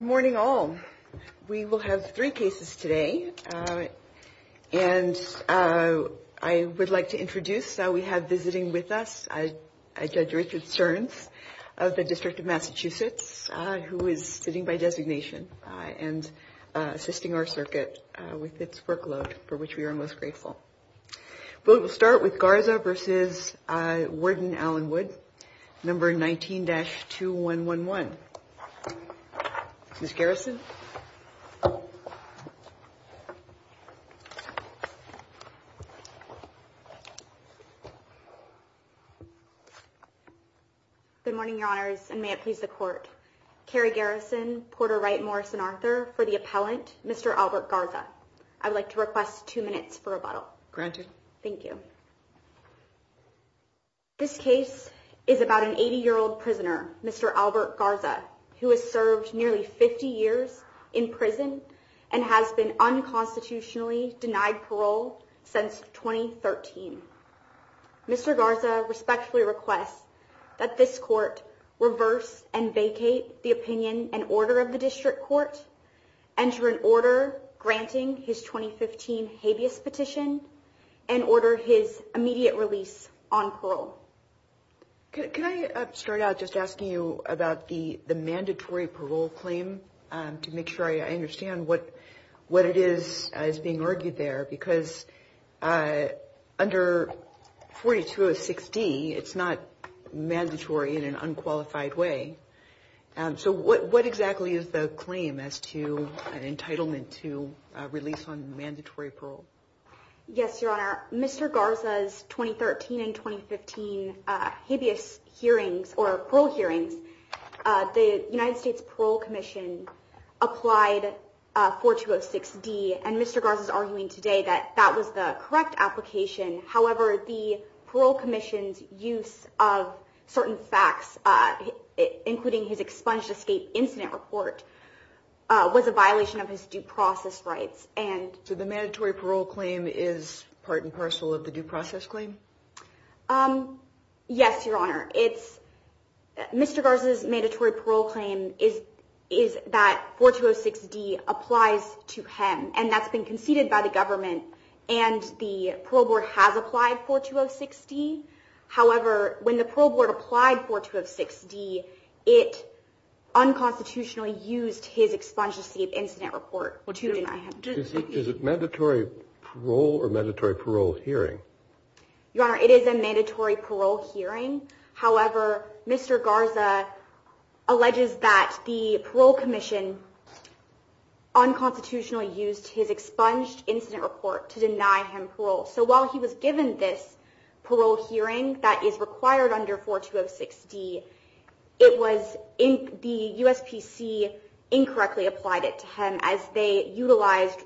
Morning all. We will have three cases today. And I would like to introduce, we have visiting with us, Judge Richard Stearns of the District of Massachusetts, who is sitting by designation and assisting our circuit with its workload, for which we are most grateful. We will start with Garza v. Warden Allenwood, No. 19-2111. Ms. Garrison. Good morning, Your Honors, and may it please the Court. Carrie Garrison, Porter Wright Morris and Arthur, for the appellant, Mr. Albert Garza. I would like to request two minutes for rebuttal. Granted. Thank you. This case is about an 80-year-old prisoner, Mr. Albert Garza, who has served nearly 50 years in prison and has been unconstitutionally denied parole since 2013. Mr. Garza respectfully requests that this Court reverse and vacate the opinion and order of the District Court, enter an order granting his 2015 habeas petition, and order his immediate release on parole. Can I start out just asking you about the mandatory parole claim to make sure I understand what it is being argued there? Because under 4206D, it's not mandatory in an unqualified way. So what exactly is the claim as to an entitlement to release on mandatory parole? Yes, Your Honor. Mr. Garza's 2013 and 2015 habeas hearings or parole hearings, the United States Parole Commission applied 4206D, and Mr. Garza is arguing today that that was the correct application. However, the parole commission's use of certain facts, including his expunged escape incident report, was a violation of his due process rights. So the mandatory parole claim is part and parcel of the due process claim? Yes, Your Honor. Mr. Garza's mandatory parole claim is that 4206D applies to him, and that's been conceded by the government, and the parole board has applied 4206D. However, when the parole board applied 4206D, it unconstitutionally used his expunged escape incident report. Is it mandatory parole or mandatory parole hearing? Your Honor, it is a mandatory parole hearing. However, Mr. Garza alleges that the parole commission unconstitutionally used his expunged incident report to deny him parole. So while he was given this parole hearing that is required under 4206D, the USPC incorrectly applied it to him as they utilized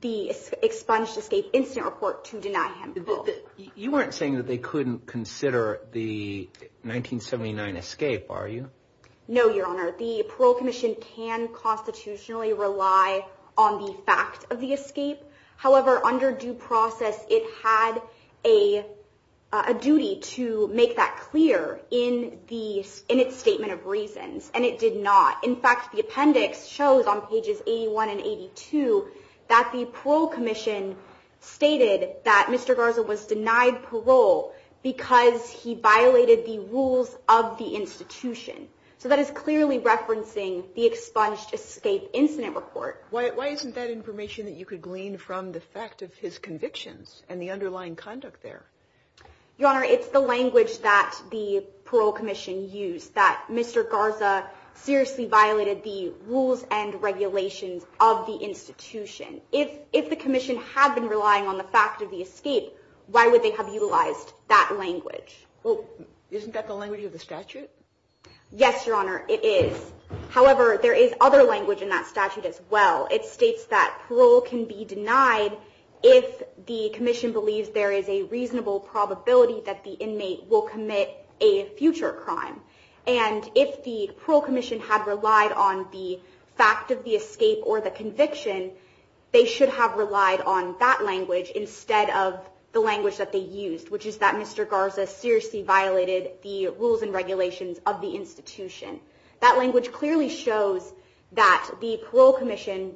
the expunged escape incident report to deny him parole. You weren't saying that they couldn't consider the 1979 escape, are you? No, Your Honor. The parole commission can constitutionally rely on the fact of the escape. However, under due process, it had a duty to make that clear in its statement of reasons, and it did not. In fact, the appendix shows on pages 81 and 82 that the parole commission stated that Mr. Garza was denied parole because he violated the rules of the institution. So that is clearly referencing the expunged escape incident report. Why isn't that information that you could glean from the fact of his convictions and the underlying conduct there? Your Honor, it's the language that the parole commission used that Mr. Garza seriously violated the rules and regulations of the institution. If the commission had been relying on the fact of the escape, why would they have utilized that language? Well, isn't that the language of the statute? Yes, Your Honor, it is. However, there is other language in that statute as well. It states that parole can be denied if the commission believes there is a reasonable probability that the inmate will commit a future crime. And if the parole commission had relied on the fact of the escape or the conviction, they should have relied on that language instead of the language that they used, which is that Mr. Garza seriously violated the rules and regulations of the institution. That language clearly shows that the parole commission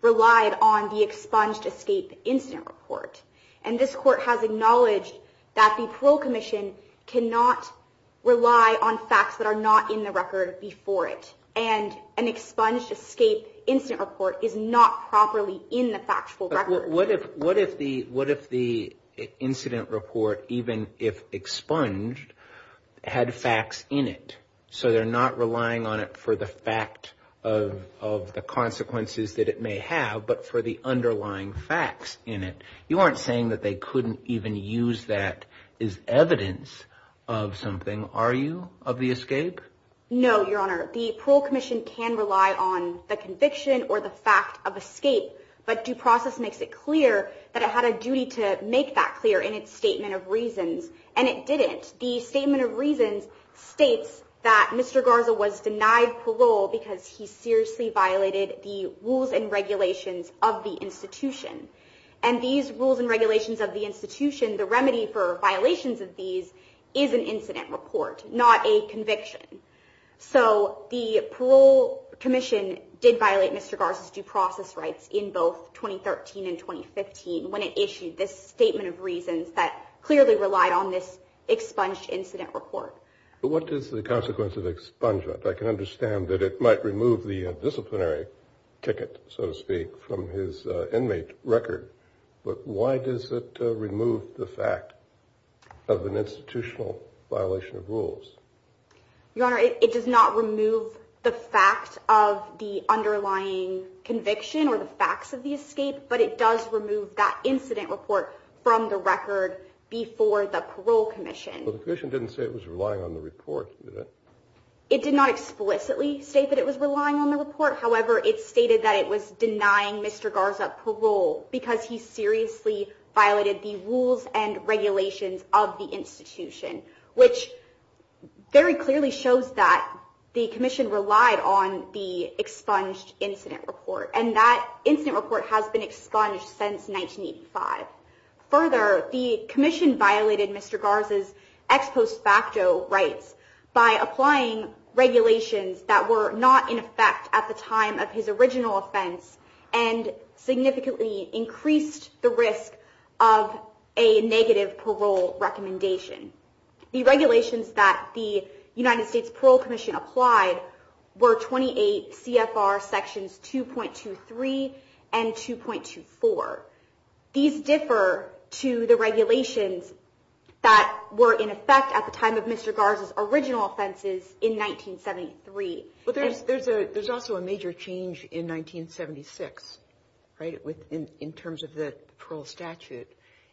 relied on the expunged escape incident report. And this court has acknowledged that the parole commission cannot rely on facts that are not in the record before it. And an expunged escape incident report is not properly in the factual record. What if the incident report, even if expunged, had facts in it? So they're not relying on it for the fact of the consequences that it may have, but for the underlying facts in it. You aren't saying that they couldn't even use that as evidence of something, are you, of the escape? No, Your Honor. The parole commission can rely on the conviction or the fact of escape, but due process makes it clear that it had a duty to make that clear in its statement of reasons. And it didn't. The statement of reasons states that Mr. Garza was denied parole because he seriously violated the rules and regulations of the institution. And these rules and regulations of the institution, the remedy for violations of these, is an incident report, not a conviction. So the parole commission did violate Mr. Garza's due process rights in both 2013 and 2015 when it issued this statement of reasons that clearly relied on this expunged incident report. But what is the consequence of expungement? I can understand that it might remove the disciplinary ticket, so to speak, from his inmate record. But why does it remove the fact of an institutional violation of rules? Your Honor, it does not remove the fact of the underlying conviction or the facts of the escape, but it does remove that incident report from the record before the parole commission. But the commission didn't say it was relying on the report, did it? It did not explicitly state that it was relying on the report. However, it stated that it was denying Mr. Garza parole because he seriously violated the rules and regulations of the institution, which very clearly shows that the commission relied on the expunged incident report. And that incident report has been expunged since 1985. Further, the commission violated Mr. Garza's ex post facto rights by applying regulations that were not in effect at the time of his original offense and significantly increased the risk of a negative parole recommendation. The regulations that the United States Parole Commission applied were 28 CFR sections 2.23 and 2.24. These differ to the regulations that were in effect at the time of Mr. Garza's original offenses in 1973. But there's also a major change in 1976, right, in terms of the parole statute.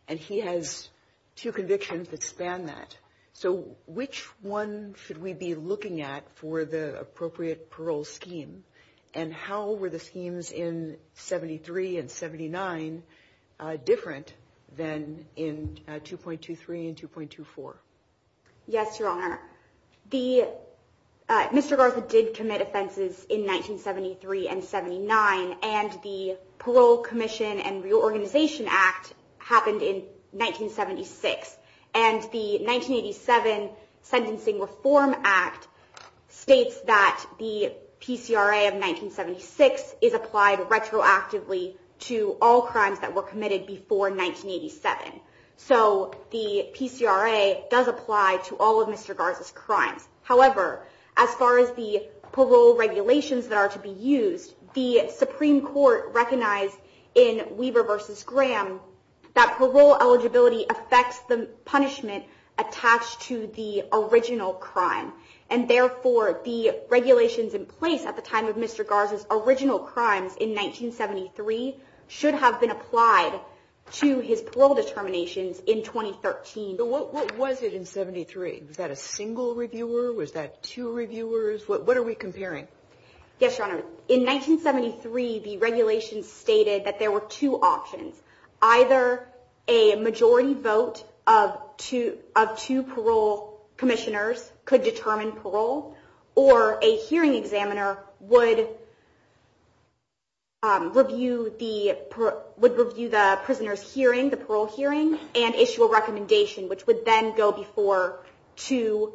And he has two convictions that span that. So which one should we be looking at for the appropriate parole scheme? And how were the schemes in 73 and 79 different than in 2.23 and 2.24? Yes, Your Honor. Mr. Garza did commit offenses in 1973 and 79, and the Parole Commission and Reorganization Act happened in 1976. And the 1987 Sentencing Reform Act states that the PCRA of 1976 is applied retroactively to all crimes that were committed before 1987. So the PCRA does apply to all of Mr. Garza's crimes. However, as far as the parole regulations that are to be used, the Supreme Court recognized in Weaver v. Graham that parole eligibility affects the punishment attached to the original crime. And therefore, the regulations in place at the time of Mr. Garza's original crimes in 1973 should have been applied to his parole determinations in 2013. What was it in 73? Was that a single reviewer? Was that two reviewers? What are we comparing? Yes, Your Honor. In 1973, the regulations stated that there were two options. Either a majority vote of two parole commissioners could determine parole, or a hearing examiner would review the prisoner's hearing, the parole hearing, and issue a recommendation, which would then go before two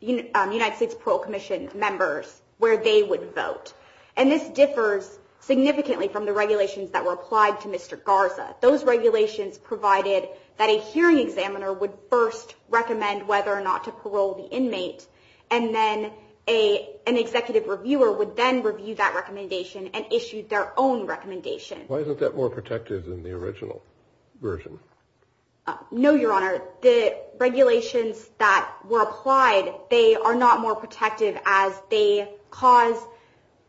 United States Parole Commission members where they would vote. And this differs significantly from the regulations that were applied to Mr. Garza. Those regulations provided that a hearing examiner would first recommend whether or not to parole the inmate, and then an executive reviewer would then review that recommendation and issue their own recommendation. Why isn't that more protective than the original version? No, Your Honor. The regulations that were applied, they are not more protective as they cause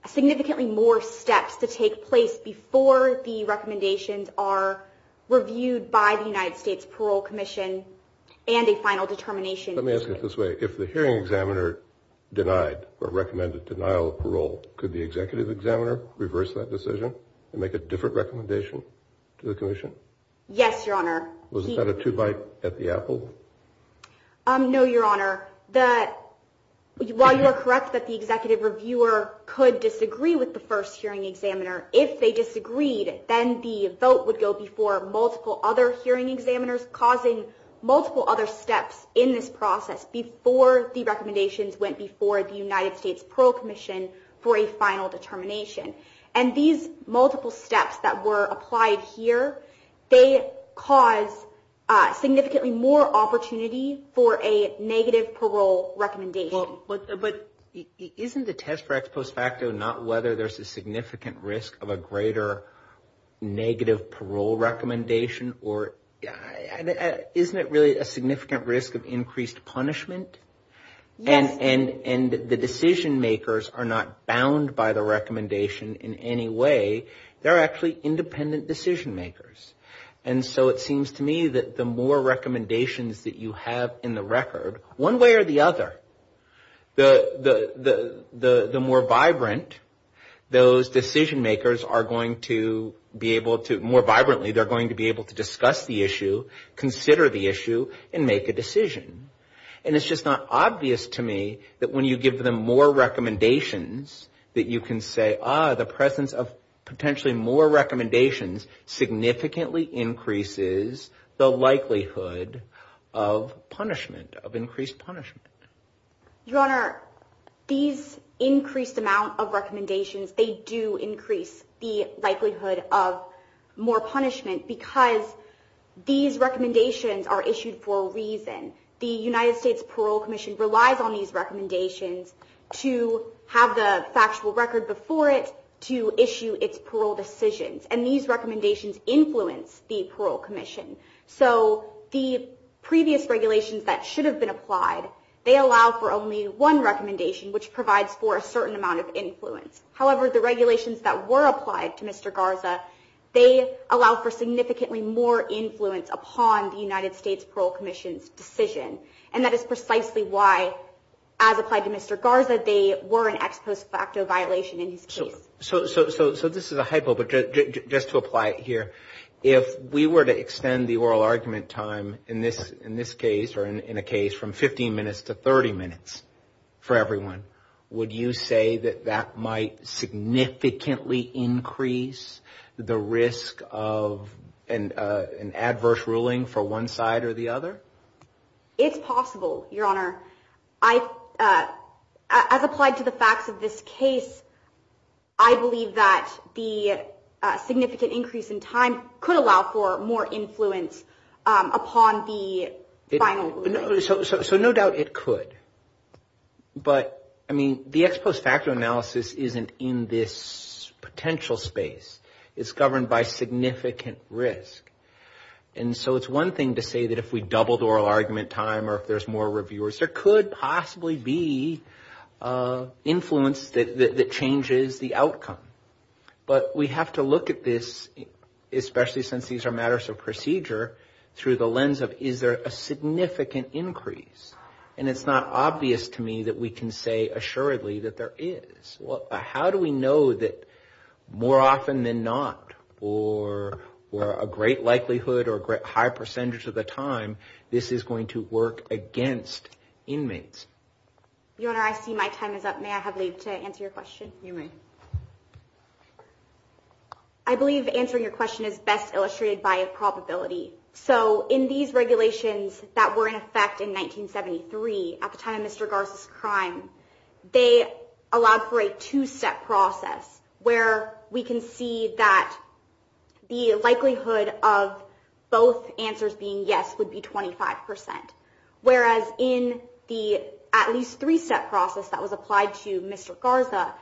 significantly more steps to take place before the recommendations are reviewed by the United States Parole Commission and a final determination. Let me ask it this way. If the hearing examiner denied or recommended denial of parole, could the executive examiner reverse that decision and make a different recommendation to the commission? Yes, Your Honor. Was that a two-byte at the apple? No, Your Honor. While you are correct that the executive reviewer could disagree with the first hearing examiner, if they disagreed, then the vote would go before multiple other hearing examiners, causing multiple other steps in this process before the recommendations went before the United States Parole Commission for a final determination. And these multiple steps that were applied here, they cause significantly more opportunity for a negative parole recommendation. But isn't the test for ex post facto not whether there's a significant risk of a greater negative parole recommendation, or isn't it really a significant risk of increased punishment? Yes. And the decision makers are not bound by the recommendation in any way. They're actually independent decision makers. And so it seems to me that the more recommendations that you have in the record, one way or the other, the more vibrant those decision makers are going to be able to, more vibrantly, they're going to be able to discuss the issue, consider the issue, and make a decision. And it's just not obvious to me that when you give them more recommendations that you can say, ah, the presence of potentially more recommendations significantly increases the likelihood of punishment, of increased punishment. Your Honor, these increased amount of recommendations, they do increase the likelihood of more punishment because these recommendations are issued for a reason. The United States Parole Commission relies on these recommendations to have the factual record before it to issue its parole decisions. And these recommendations influence the Parole Commission. So the previous regulations that should have been applied, they allow for only one recommendation, which provides for a certain amount of influence. However, the regulations that were applied to Mr. Garza, they allow for significantly more influence upon the United States Parole Commission's decision. And that is precisely why, as applied to Mr. Garza, they were an ex post facto violation in his case. So this is a hypo, but just to apply it here, if we were to extend the oral argument time in this case, or in a case from 15 minutes to 30 minutes for everyone, would you say that that might significantly increase the risk of an adverse ruling for one side or the other? It's possible, Your Honor. As applied to the facts of this case, I believe that the significant increase in time could allow for more influence upon the final ruling. So no doubt it could. But, I mean, the ex post facto analysis isn't in this potential space. It's governed by significant risk. And so it's one thing to say that if we doubled oral argument time or if there's more reviewers, there could possibly be influence that changes the outcome. But we have to look at this, especially since these are matters of procedure, through the lens of is there a significant increase? And it's not obvious to me that we can say assuredly that there is. How do we know that more often than not, or a great likelihood or a high percentage of the time, this is going to work against inmates? Your Honor, I see my time is up. May I have leave to answer your question? You may. I believe answering your question is best illustrated by a probability. So in these regulations that were in effect in 1973, at the time of Mr. Garza's crime, they allowed for a two-step process where we can see that the likelihood of both answers being yes would be 25%. Whereas in the at least three-step process that was applied to Mr. Garza,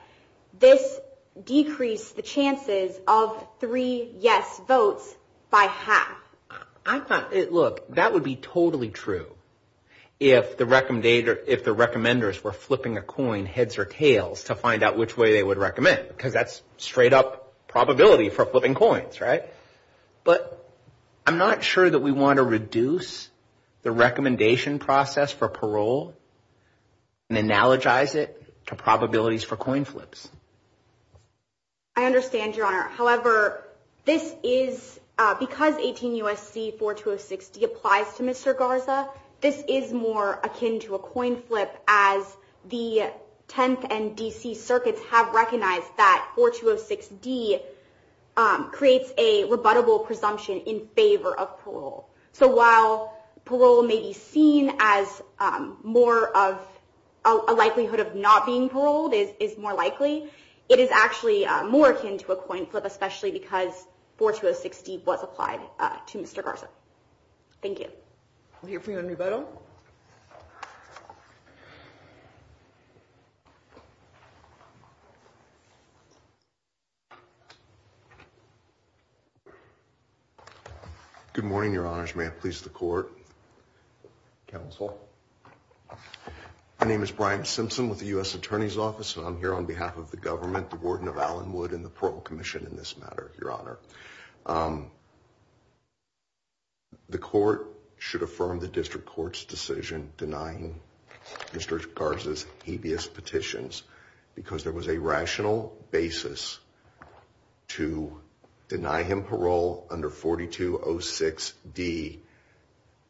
this decreased the chances of three yes votes by half. Look, that would be totally true if the recommenders were flipping a coin heads or tails to find out which way they would recommend, because that's straight-up probability for flipping coins, right? But I'm not sure that we want to reduce the recommendation process for parole and analogize it to probabilities for coin flips. I understand, Your Honor. However, because 18 U.S.C. 4206D applies to Mr. Garza, this is more akin to a coin flip, as the Tenth and D.C. Circuits have recognized that 4206D creates a rebuttable presumption in favor of parole. So while parole may be seen as more of a likelihood of not being paroled is more likely, it is actually more akin to a coin flip, especially because 4206D was applied to Mr. Garza. Thank you. We'll hear from you on rebuttal. Good morning, Your Honors. May I please the court? Counsel. My name is Brian Simpson with the U.S. Attorney's Office, and I'm here on behalf of the government, the warden of Allenwood, and the parole commission in this matter, Your Honor. The court should affirm the district court's decision denying Mr. Garza's habeas petitions because there was a rational basis to deny him parole under 4206D.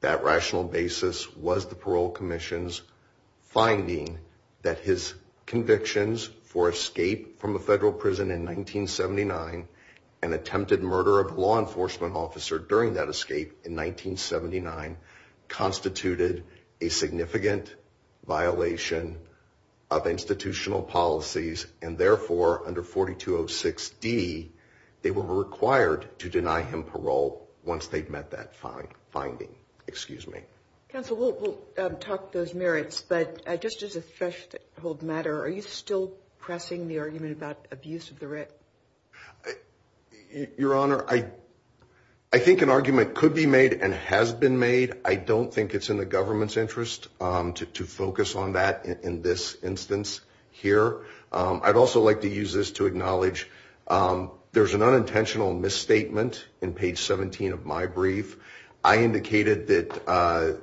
That rational basis was the parole commission's finding that his convictions for escape from a federal prison in 1979 and attempted murder of a law enforcement officer during that escape in 1979 constituted a significant violation of institutional policies. And therefore, under 4206D, they were required to deny him parole once they met that finding. Excuse me. Counsel, we'll talk those merits. But just as a threshold matter, are you still pressing the argument about abuse of the writ? Your Honor, I think an argument could be made and has been made. I don't think it's in the government's interest to focus on that in this instance here. I'd also like to use this to acknowledge there's an unintentional misstatement in page 17 of my brief. I indicated that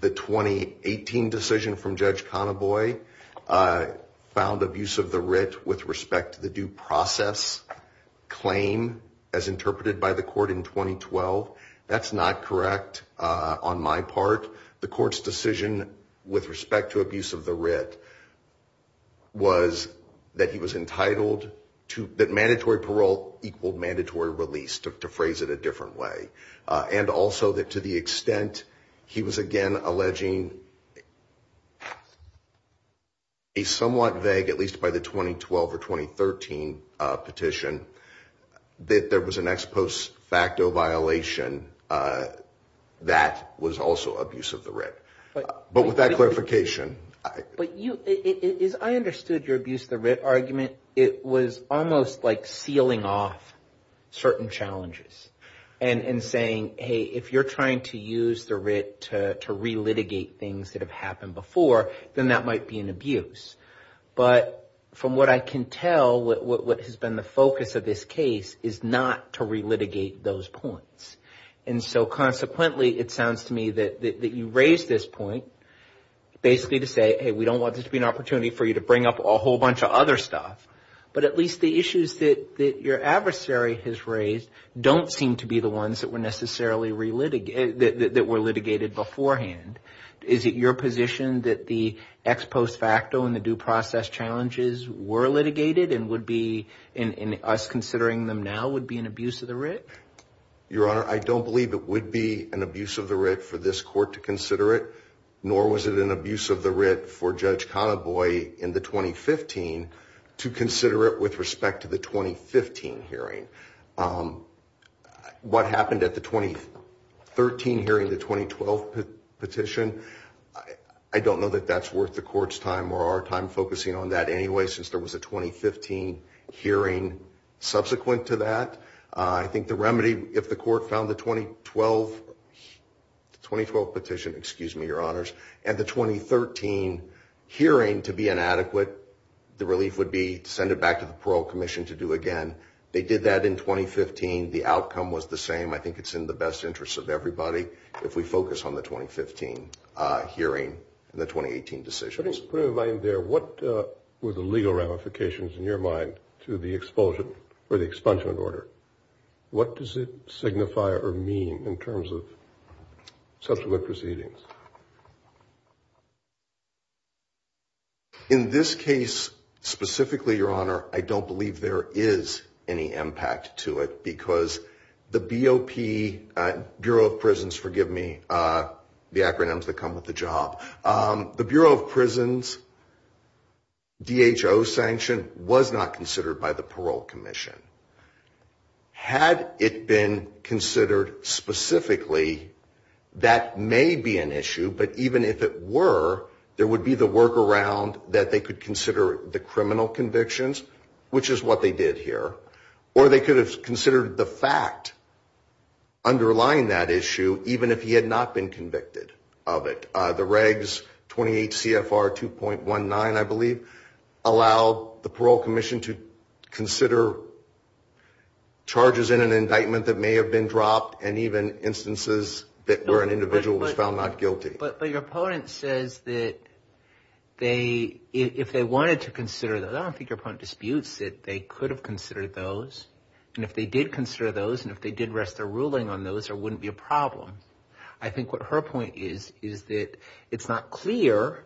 the 2018 decision from Judge Conaboy found abuse of the writ with respect to the due process claim as interpreted by the court in 2012. That's not correct. On my part, the court's decision with respect to abuse of the writ was that he was entitled to mandatory parole equaled mandatory release, to phrase it a different way. And also that to the extent he was, again, alleging a somewhat vague, at least by the 2012 or 2013 petition, that there was an ex post facto violation that was also abuse of the writ. But with that clarification. I understood your abuse of the writ argument. It was almost like sealing off certain challenges and saying, hey, if you're trying to use the writ to relitigate things that have happened before, then that might be an abuse. But from what I can tell, what has been the focus of this case is not to relitigate those points. And so consequently, it sounds to me that you raised this point basically to say, hey, we don't want this to be an opportunity for you to bring up a whole bunch of other stuff. But at least the issues that your adversary has raised don't seem to be the ones that were necessarily relitigated that were litigated beforehand. Is it your position that the ex post facto and the due process challenges were litigated and would be in us considering them now would be an abuse of the writ? Your Honor, I don't believe it would be an abuse of the writ for this court to consider it. Nor was it an abuse of the writ for Judge Conaboy in the 2015 to consider it with respect to the 2015 hearing. What happened at the 2013 hearing, the 2012 petition? I don't know that that's worth the court's time or our time focusing on that anyway, since there was a 2015 hearing subsequent to that. I think the remedy, if the court found the 2012 petition, excuse me, Your Honors, and the 2013 hearing to be inadequate, the relief would be to send it back to the Parole Commission to do again. They did that in 2015. The outcome was the same. I think it's in the best interest of everybody if we focus on the 2015 hearing and the 2018 decisions. Just to put in mind there, what were the legal ramifications in your mind to the expulsion or the expungement order? What does it signify or mean in terms of subsequent proceedings? In this case specifically, Your Honor, I don't believe there is any impact to it because the BOP, Bureau of Prisons, forgive me the acronyms that come with the job. The Bureau of Prisons DHO sanction was not considered by the Parole Commission. Had it been considered specifically, that may be an issue. But even if it were, there would be the workaround that they could consider the criminal convictions, which is what they did here. Or they could have considered the fact underlying that issue, even if he had not been convicted of it. The regs 28 CFR 2.19, I believe, allowed the Parole Commission to consider charges in an indictment that may have been dropped and even instances where an individual was found not guilty. But your opponent says that if they wanted to consider, I don't think your opponent disputes it, they could have considered those. And if they did consider those and if they did rest their ruling on those, there wouldn't be a problem. I think what her point is is that it's not clear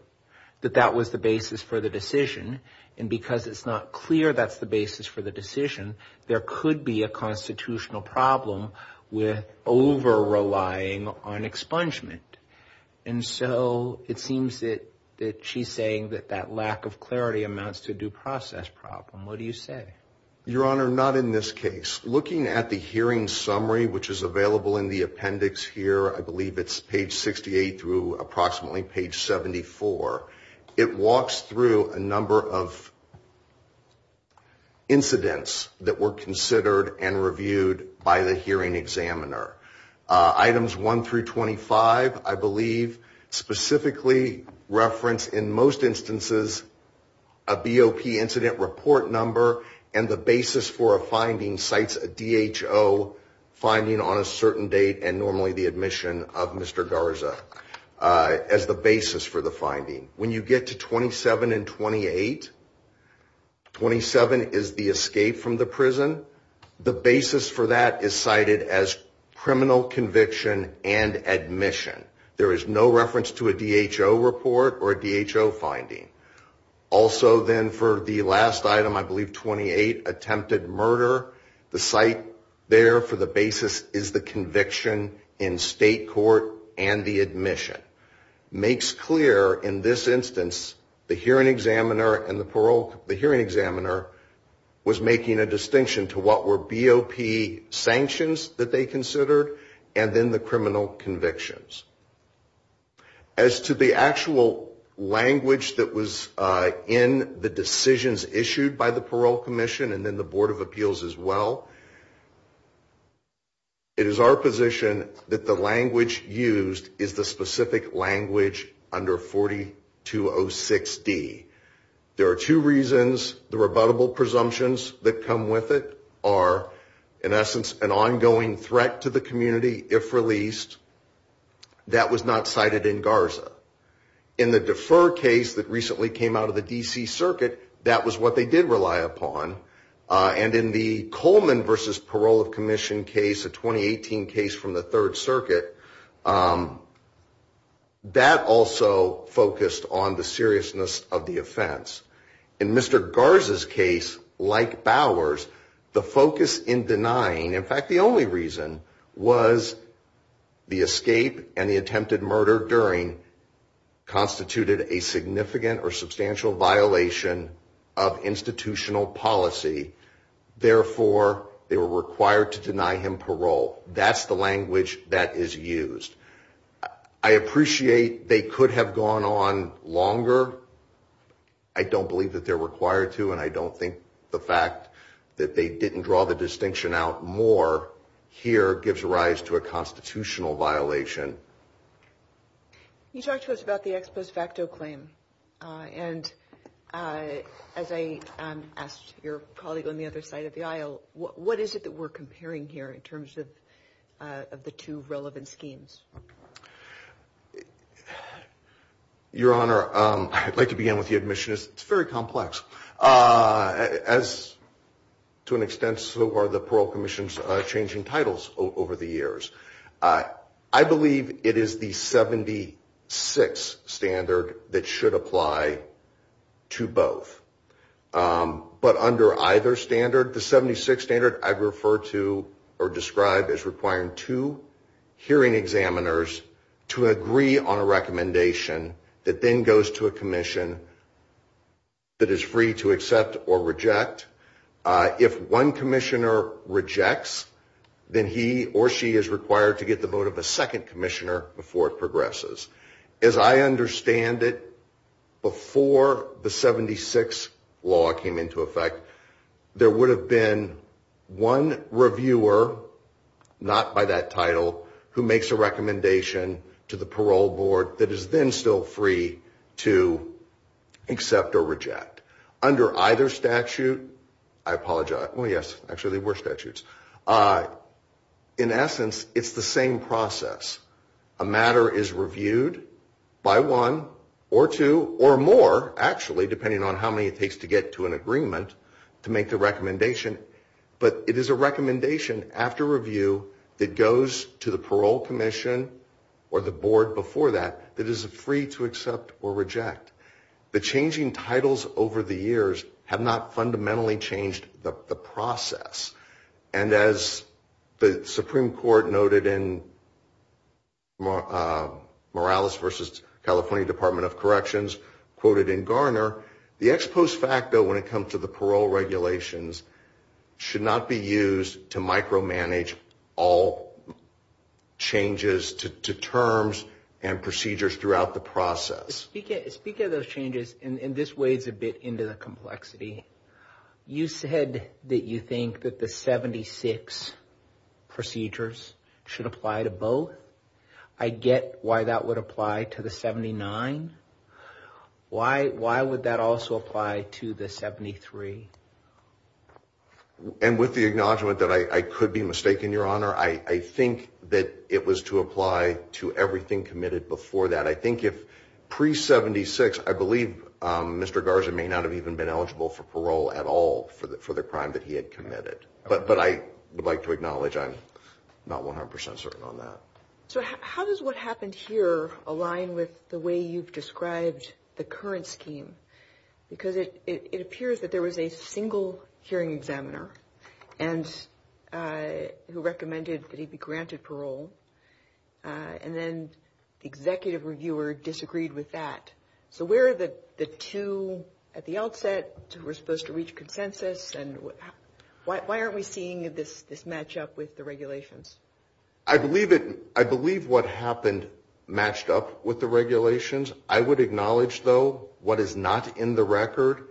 that that was the basis for the decision. And because it's not clear that's the basis for the decision, there could be a constitutional problem with over relying on expungement. And so it seems that she's saying that that lack of clarity amounts to due process problem. What do you say? Your Honor, not in this case. It's looking at the hearing summary, which is available in the appendix here. I believe it's page 68 through approximately page 74. It walks through a number of incidents that were considered and reviewed by the hearing examiner. Items 1 through 25, I believe, specifically reference in most instances a BOP incident report number. And the basis for a finding cites a DHO finding on a certain date and normally the admission of Mr. Garza as the basis for the finding. When you get to 27 and 28, 27 is the escape from the prison. The basis for that is cited as criminal conviction and admission. There is no reference to a DHO report or a DHO finding. Also then for the last item, I believe 28, attempted murder, the site there for the basis is the conviction in state court and the admission. Makes clear in this instance the hearing examiner and the parole, the hearing examiner was making a distinction to what were BOP sanctions that they considered and then the criminal convictions. As to the actual language that was in the decisions issued by the Parole Commission and then the Board of Appeals as well, it is our position that the language used is the specific language under 4206D. There are two reasons the rebuttable presumptions that come with it are in essence an ongoing threat to the community if released. That was not cited in Garza. In the defer case that recently came out of the D.C. Circuit, that was what they did rely upon. And in the Coleman v. Parole of Commission case, a 2018 case from the Third Circuit, that also focused on the seriousness of the offense. In Mr. Garza's case, like Bowers, the focus in denying, in fact the only reason, was the escape and the attempted murder during constituted a significant or substantial violation of institutional policy. Therefore, they were required to deny him parole. That's the language that is used. I appreciate they could have gone on longer. I don't believe that they're required to, and I don't think the fact that they didn't draw the distinction out more here gives rise to a constitutional violation. You talked to us about the ex post facto claim. And as I asked your colleague on the other side of the aisle, what is it that we're comparing here in terms of the two relevant schemes? Your Honor, I'd like to begin with the admission. It's very complex. As to an extent, so are the Parole Commission's changing titles over the years. I believe it is the 76 standard that should apply to both. But under either standard, the 76 standard I'd refer to or describe as requiring two hearing examiners to agree on a recommendation that then goes to a commission that is free to accept or reject. If one commissioner rejects, then he or she is required to get the vote of a second commissioner before it progresses. As I understand it, before the 76 law came into effect, there would have been one reviewer, not by that title, who makes a recommendation to the parole board that is then still free to accept or reject. Under either statute, I apologize. Well, yes, actually they were statutes. In essence, it's the same process. A matter is reviewed by one or two or more, actually, depending on how many it takes to get to an agreement to make the recommendation. But it is a recommendation after review that goes to the parole commission or the board before that that is free to accept or reject. The changing titles over the years have not fundamentally changed the process. And as the Supreme Court noted in Morales v. California Department of Corrections, quoted in Garner, the ex post facto when it comes to the parole regulations should not be used to micromanage all changes to terms and procedures throughout the process. Speak of those changes, and this wades a bit into the complexity. You said that you think that the 76 procedures should apply to both. I get why that would apply to the 79. Why? Why would that also apply to the 73? And with the acknowledgement that I could be mistaken, Your Honor, I think that it was to apply to everything committed before that. I think if pre-76, I believe Mr. Garza may not have even been eligible for parole at all for the crime that he had committed. But I would like to acknowledge I'm not 100 percent certain on that. So how does what happened here align with the way you've described the current scheme? Because it appears that there was a single hearing examiner who recommended that he be granted parole. And then the executive reviewer disagreed with that. So where are the two at the outset who were supposed to reach consensus? And why aren't we seeing this match up with the regulations? I believe what happened matched up with the regulations. I would acknowledge, though, what is not in the record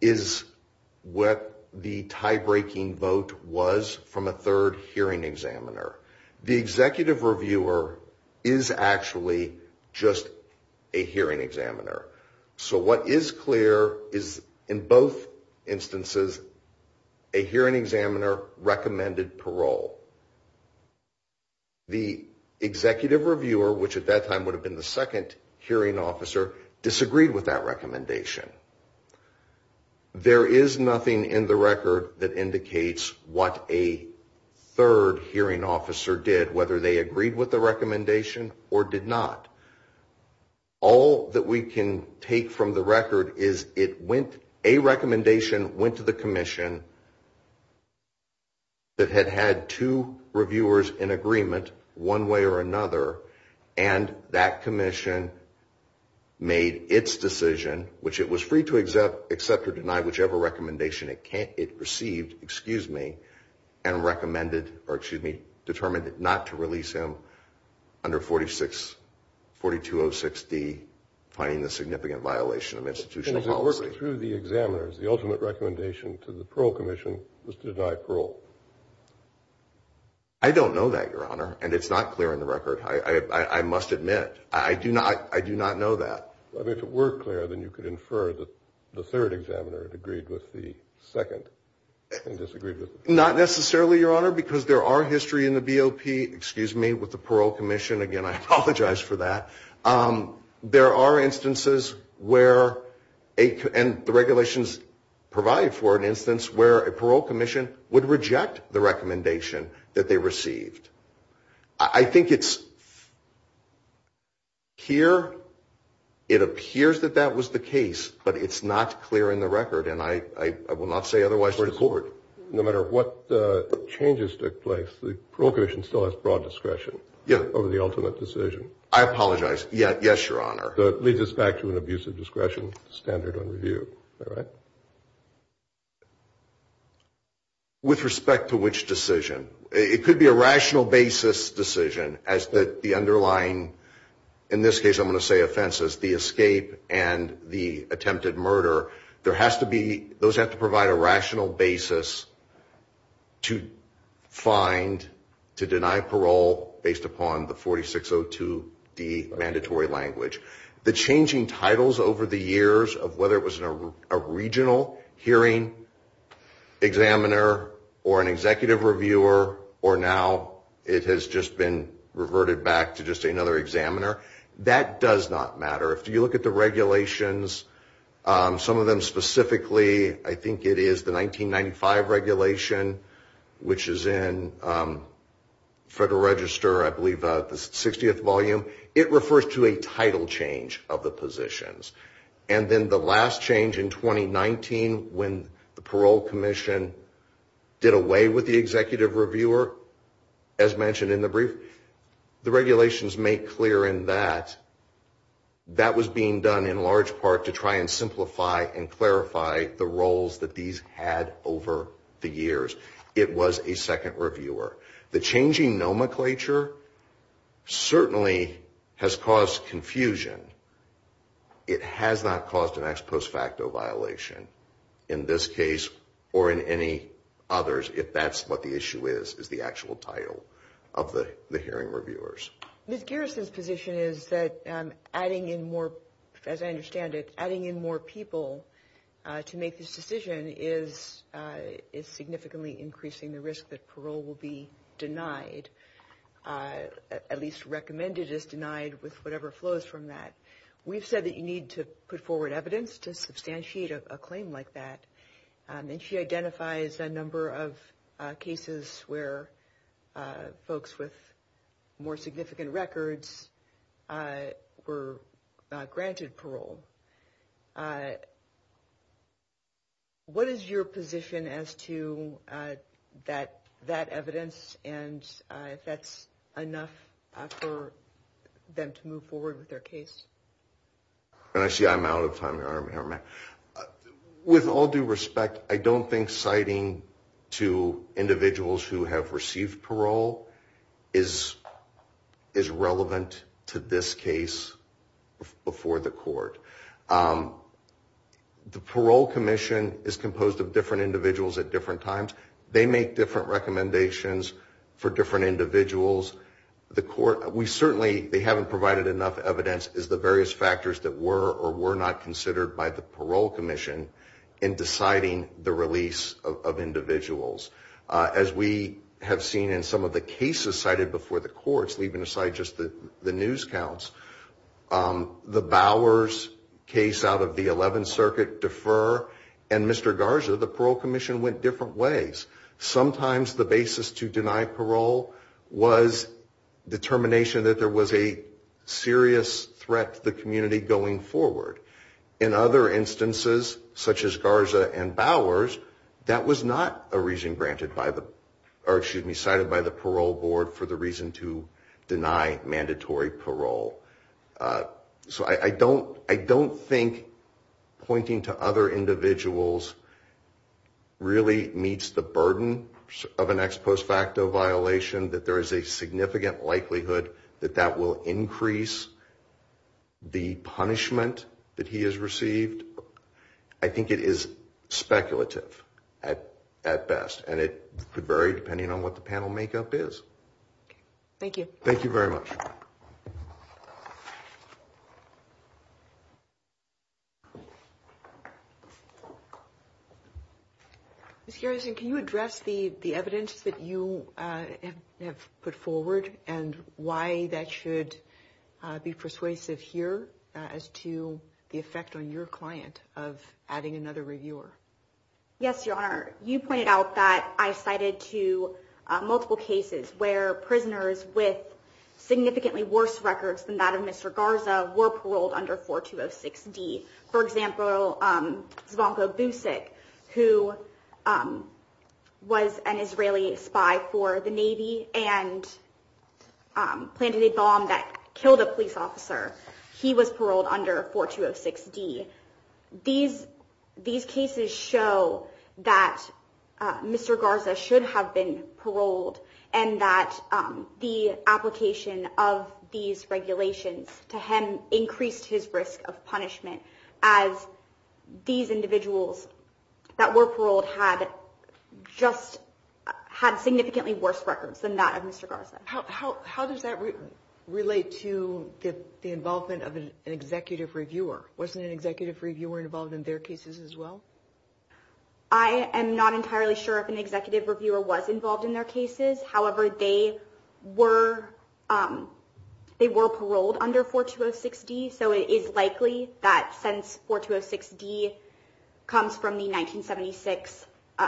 is what the tie-breaking vote was from a third hearing examiner. The executive reviewer is actually just a hearing examiner. So what is clear is in both instances a hearing examiner recommended parole. The executive reviewer, which at that time would have been the second hearing officer, disagreed with that recommendation. There is nothing in the record that indicates what a third hearing officer did, whether they agreed with the recommendation or did not. All that we can take from the record is a recommendation went to the commission that had had two reviewers in agreement one way or another. And that commission made its decision, which it was free to accept or deny whichever recommendation it received, and determined not to release him under 4206D, finding the significant violation of institutional policy. Through the examiners, the ultimate recommendation to the parole commission was to deny parole. I don't know that, Your Honor. And it's not clear in the record. I must admit. I do not know that. If it were clear, then you could infer that the third examiner had agreed with the second and disagreed with the first. Not necessarily, Your Honor, because there are history in the BOP, excuse me, with the parole commission. Again, I apologize for that. There are instances where, and the regulations provide for an instance, where a parole commission would reject the recommendation that they received. I think it's here. It appears that that was the case, but it's not clear in the record. And I will not say otherwise to the court. No matter what changes took place, the parole commission still has broad discretion over the ultimate decision. I apologize. Yes, Your Honor. So it leads us back to an abusive discretion standard on review. All right. With respect to which decision? It could be a rational basis decision as the underlying, in this case I'm going to say offenses, the escape and the attempted murder. Those have to provide a rational basis to find, to deny parole based upon the 4602D mandatory language. The changing titles over the years of whether it was a regional hearing examiner or an executive reviewer, or now it has just been reverted back to just another examiner, that does not matter. If you look at the regulations, some of them specifically, I think it is the 1995 regulation, which is in Federal Register, I believe the 60th volume, it refers to a title change of the positions. And then the last change in 2019, when the parole commission did away with the executive reviewer, as mentioned in the brief, the regulations make clear in that, that was being done in large part to try and simplify and clarify the roles that these had over the years. It was a second reviewer. The changing nomenclature certainly has caused confusion. It has not caused an ex post facto violation in this case or in any others, if that's what the issue is, is the actual title of the hearing reviewers. Ms. Garrison's position is that adding in more, as I understand it, adding in more people to make this decision is significantly increasing the risk that parole will be denied, at least recommended as denied with whatever flows from that. We've said that you need to put forward evidence to substantiate a claim like that. And she identifies a number of cases where folks with more significant records were granted parole. What is your position as to that evidence and if that's enough for them to move forward with their case? I see I'm out of time here. With all due respect, I don't think citing to individuals who have received parole is relevant to this case before the court. The Parole Commission is composed of different individuals at different times. They make different recommendations for different individuals. The court, we certainly, they haven't provided enough evidence as the various factors that were or were not considered by the Parole Commission in deciding the release of individuals. As we have seen in some of the cases cited before the courts, leaving aside just the news counts, the Bowers case out of the 11th Circuit defer and Mr. Garza, the Parole Commission went different ways. Sometimes the basis to deny parole was determination that there was a serious threat to the community going forward. In other instances, such as Garza and Bowers, that was not a reason granted by the, or excuse me, cited by the Parole Board for the reason to deny mandatory parole. So I don't think pointing to other individuals really meets the burden of an ex post facto violation, that there is a significant likelihood that that will increase the punishment that he has received. I think it is speculative at best, and it could vary depending on what the panel makeup is. Thank you. Thank you very much. Thank you. Ms. Garrison, can you address the evidence that you have put forward, and why that should be persuasive here as to the effect on your client of adding another reviewer? Yes, Your Honor. You pointed out that I cited to multiple cases where prisoners with significantly worse records than that of Mr. Garza were paroled under 4206D. For example, Zvonko Busik, who was an Israeli spy for the Navy and planted a bomb that killed a police officer. He was paroled under 4206D. These cases show that Mr. Garza should have been paroled, and that the application of these regulations to him increased his risk of punishment as these individuals that were paroled had significantly worse records than that of Mr. Garza. How does that relate to the involvement of an executive reviewer? Wasn't an executive reviewer involved in their cases as well? I am not entirely sure if an executive reviewer was involved in their cases. However, they were paroled under 4206D, so it is likely that since 4206D comes from the 1976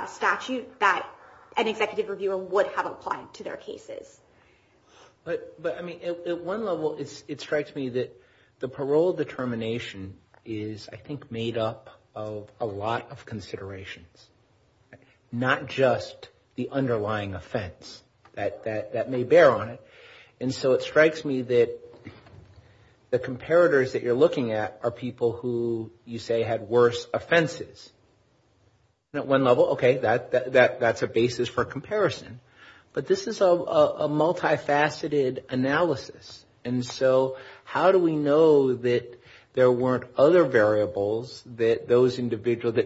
statute, that an executive reviewer would have applied to their cases. But, I mean, at one level, it strikes me that the parole determination is, I think, made up of a lot of considerations, not just the underlying offense that may bear on it. And so it strikes me that the comparators that you're looking at are people who you say had worse offenses. And at one level, okay, that's a basis for comparison. But this is a multifaceted analysis. And so how do we know that there weren't other variables that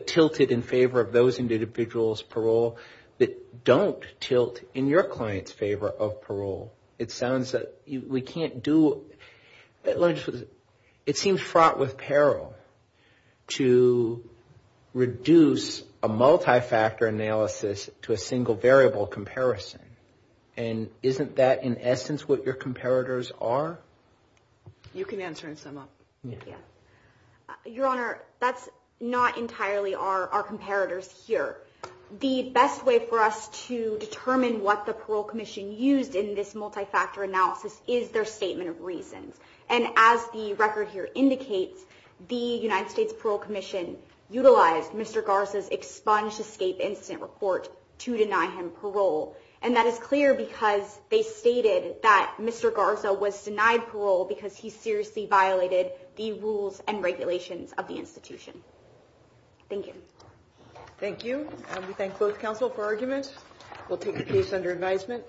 tilted in favor of those individuals' parole that don't tilt in your client's favor of parole? It sounds that we can't do... It seems fraught with peril to reduce a multifactor analysis to a single variable comparison. And isn't that, in essence, what your comparators are? You can answer and sum up. Your Honor, that's not entirely our comparators here. The best way for us to determine what the Parole Commission used in this multifactor analysis is their statement of reasons. And as the record here indicates, the United States Parole Commission utilized Mr. Garza's bondage escape incident report to deny him parole. And that is clear because they stated that Mr. Garza was denied parole because he seriously violated the rules and regulations of the institution. Thank you. Thank you. And we thank both counsel for arguments. We'll take a piece under advisement.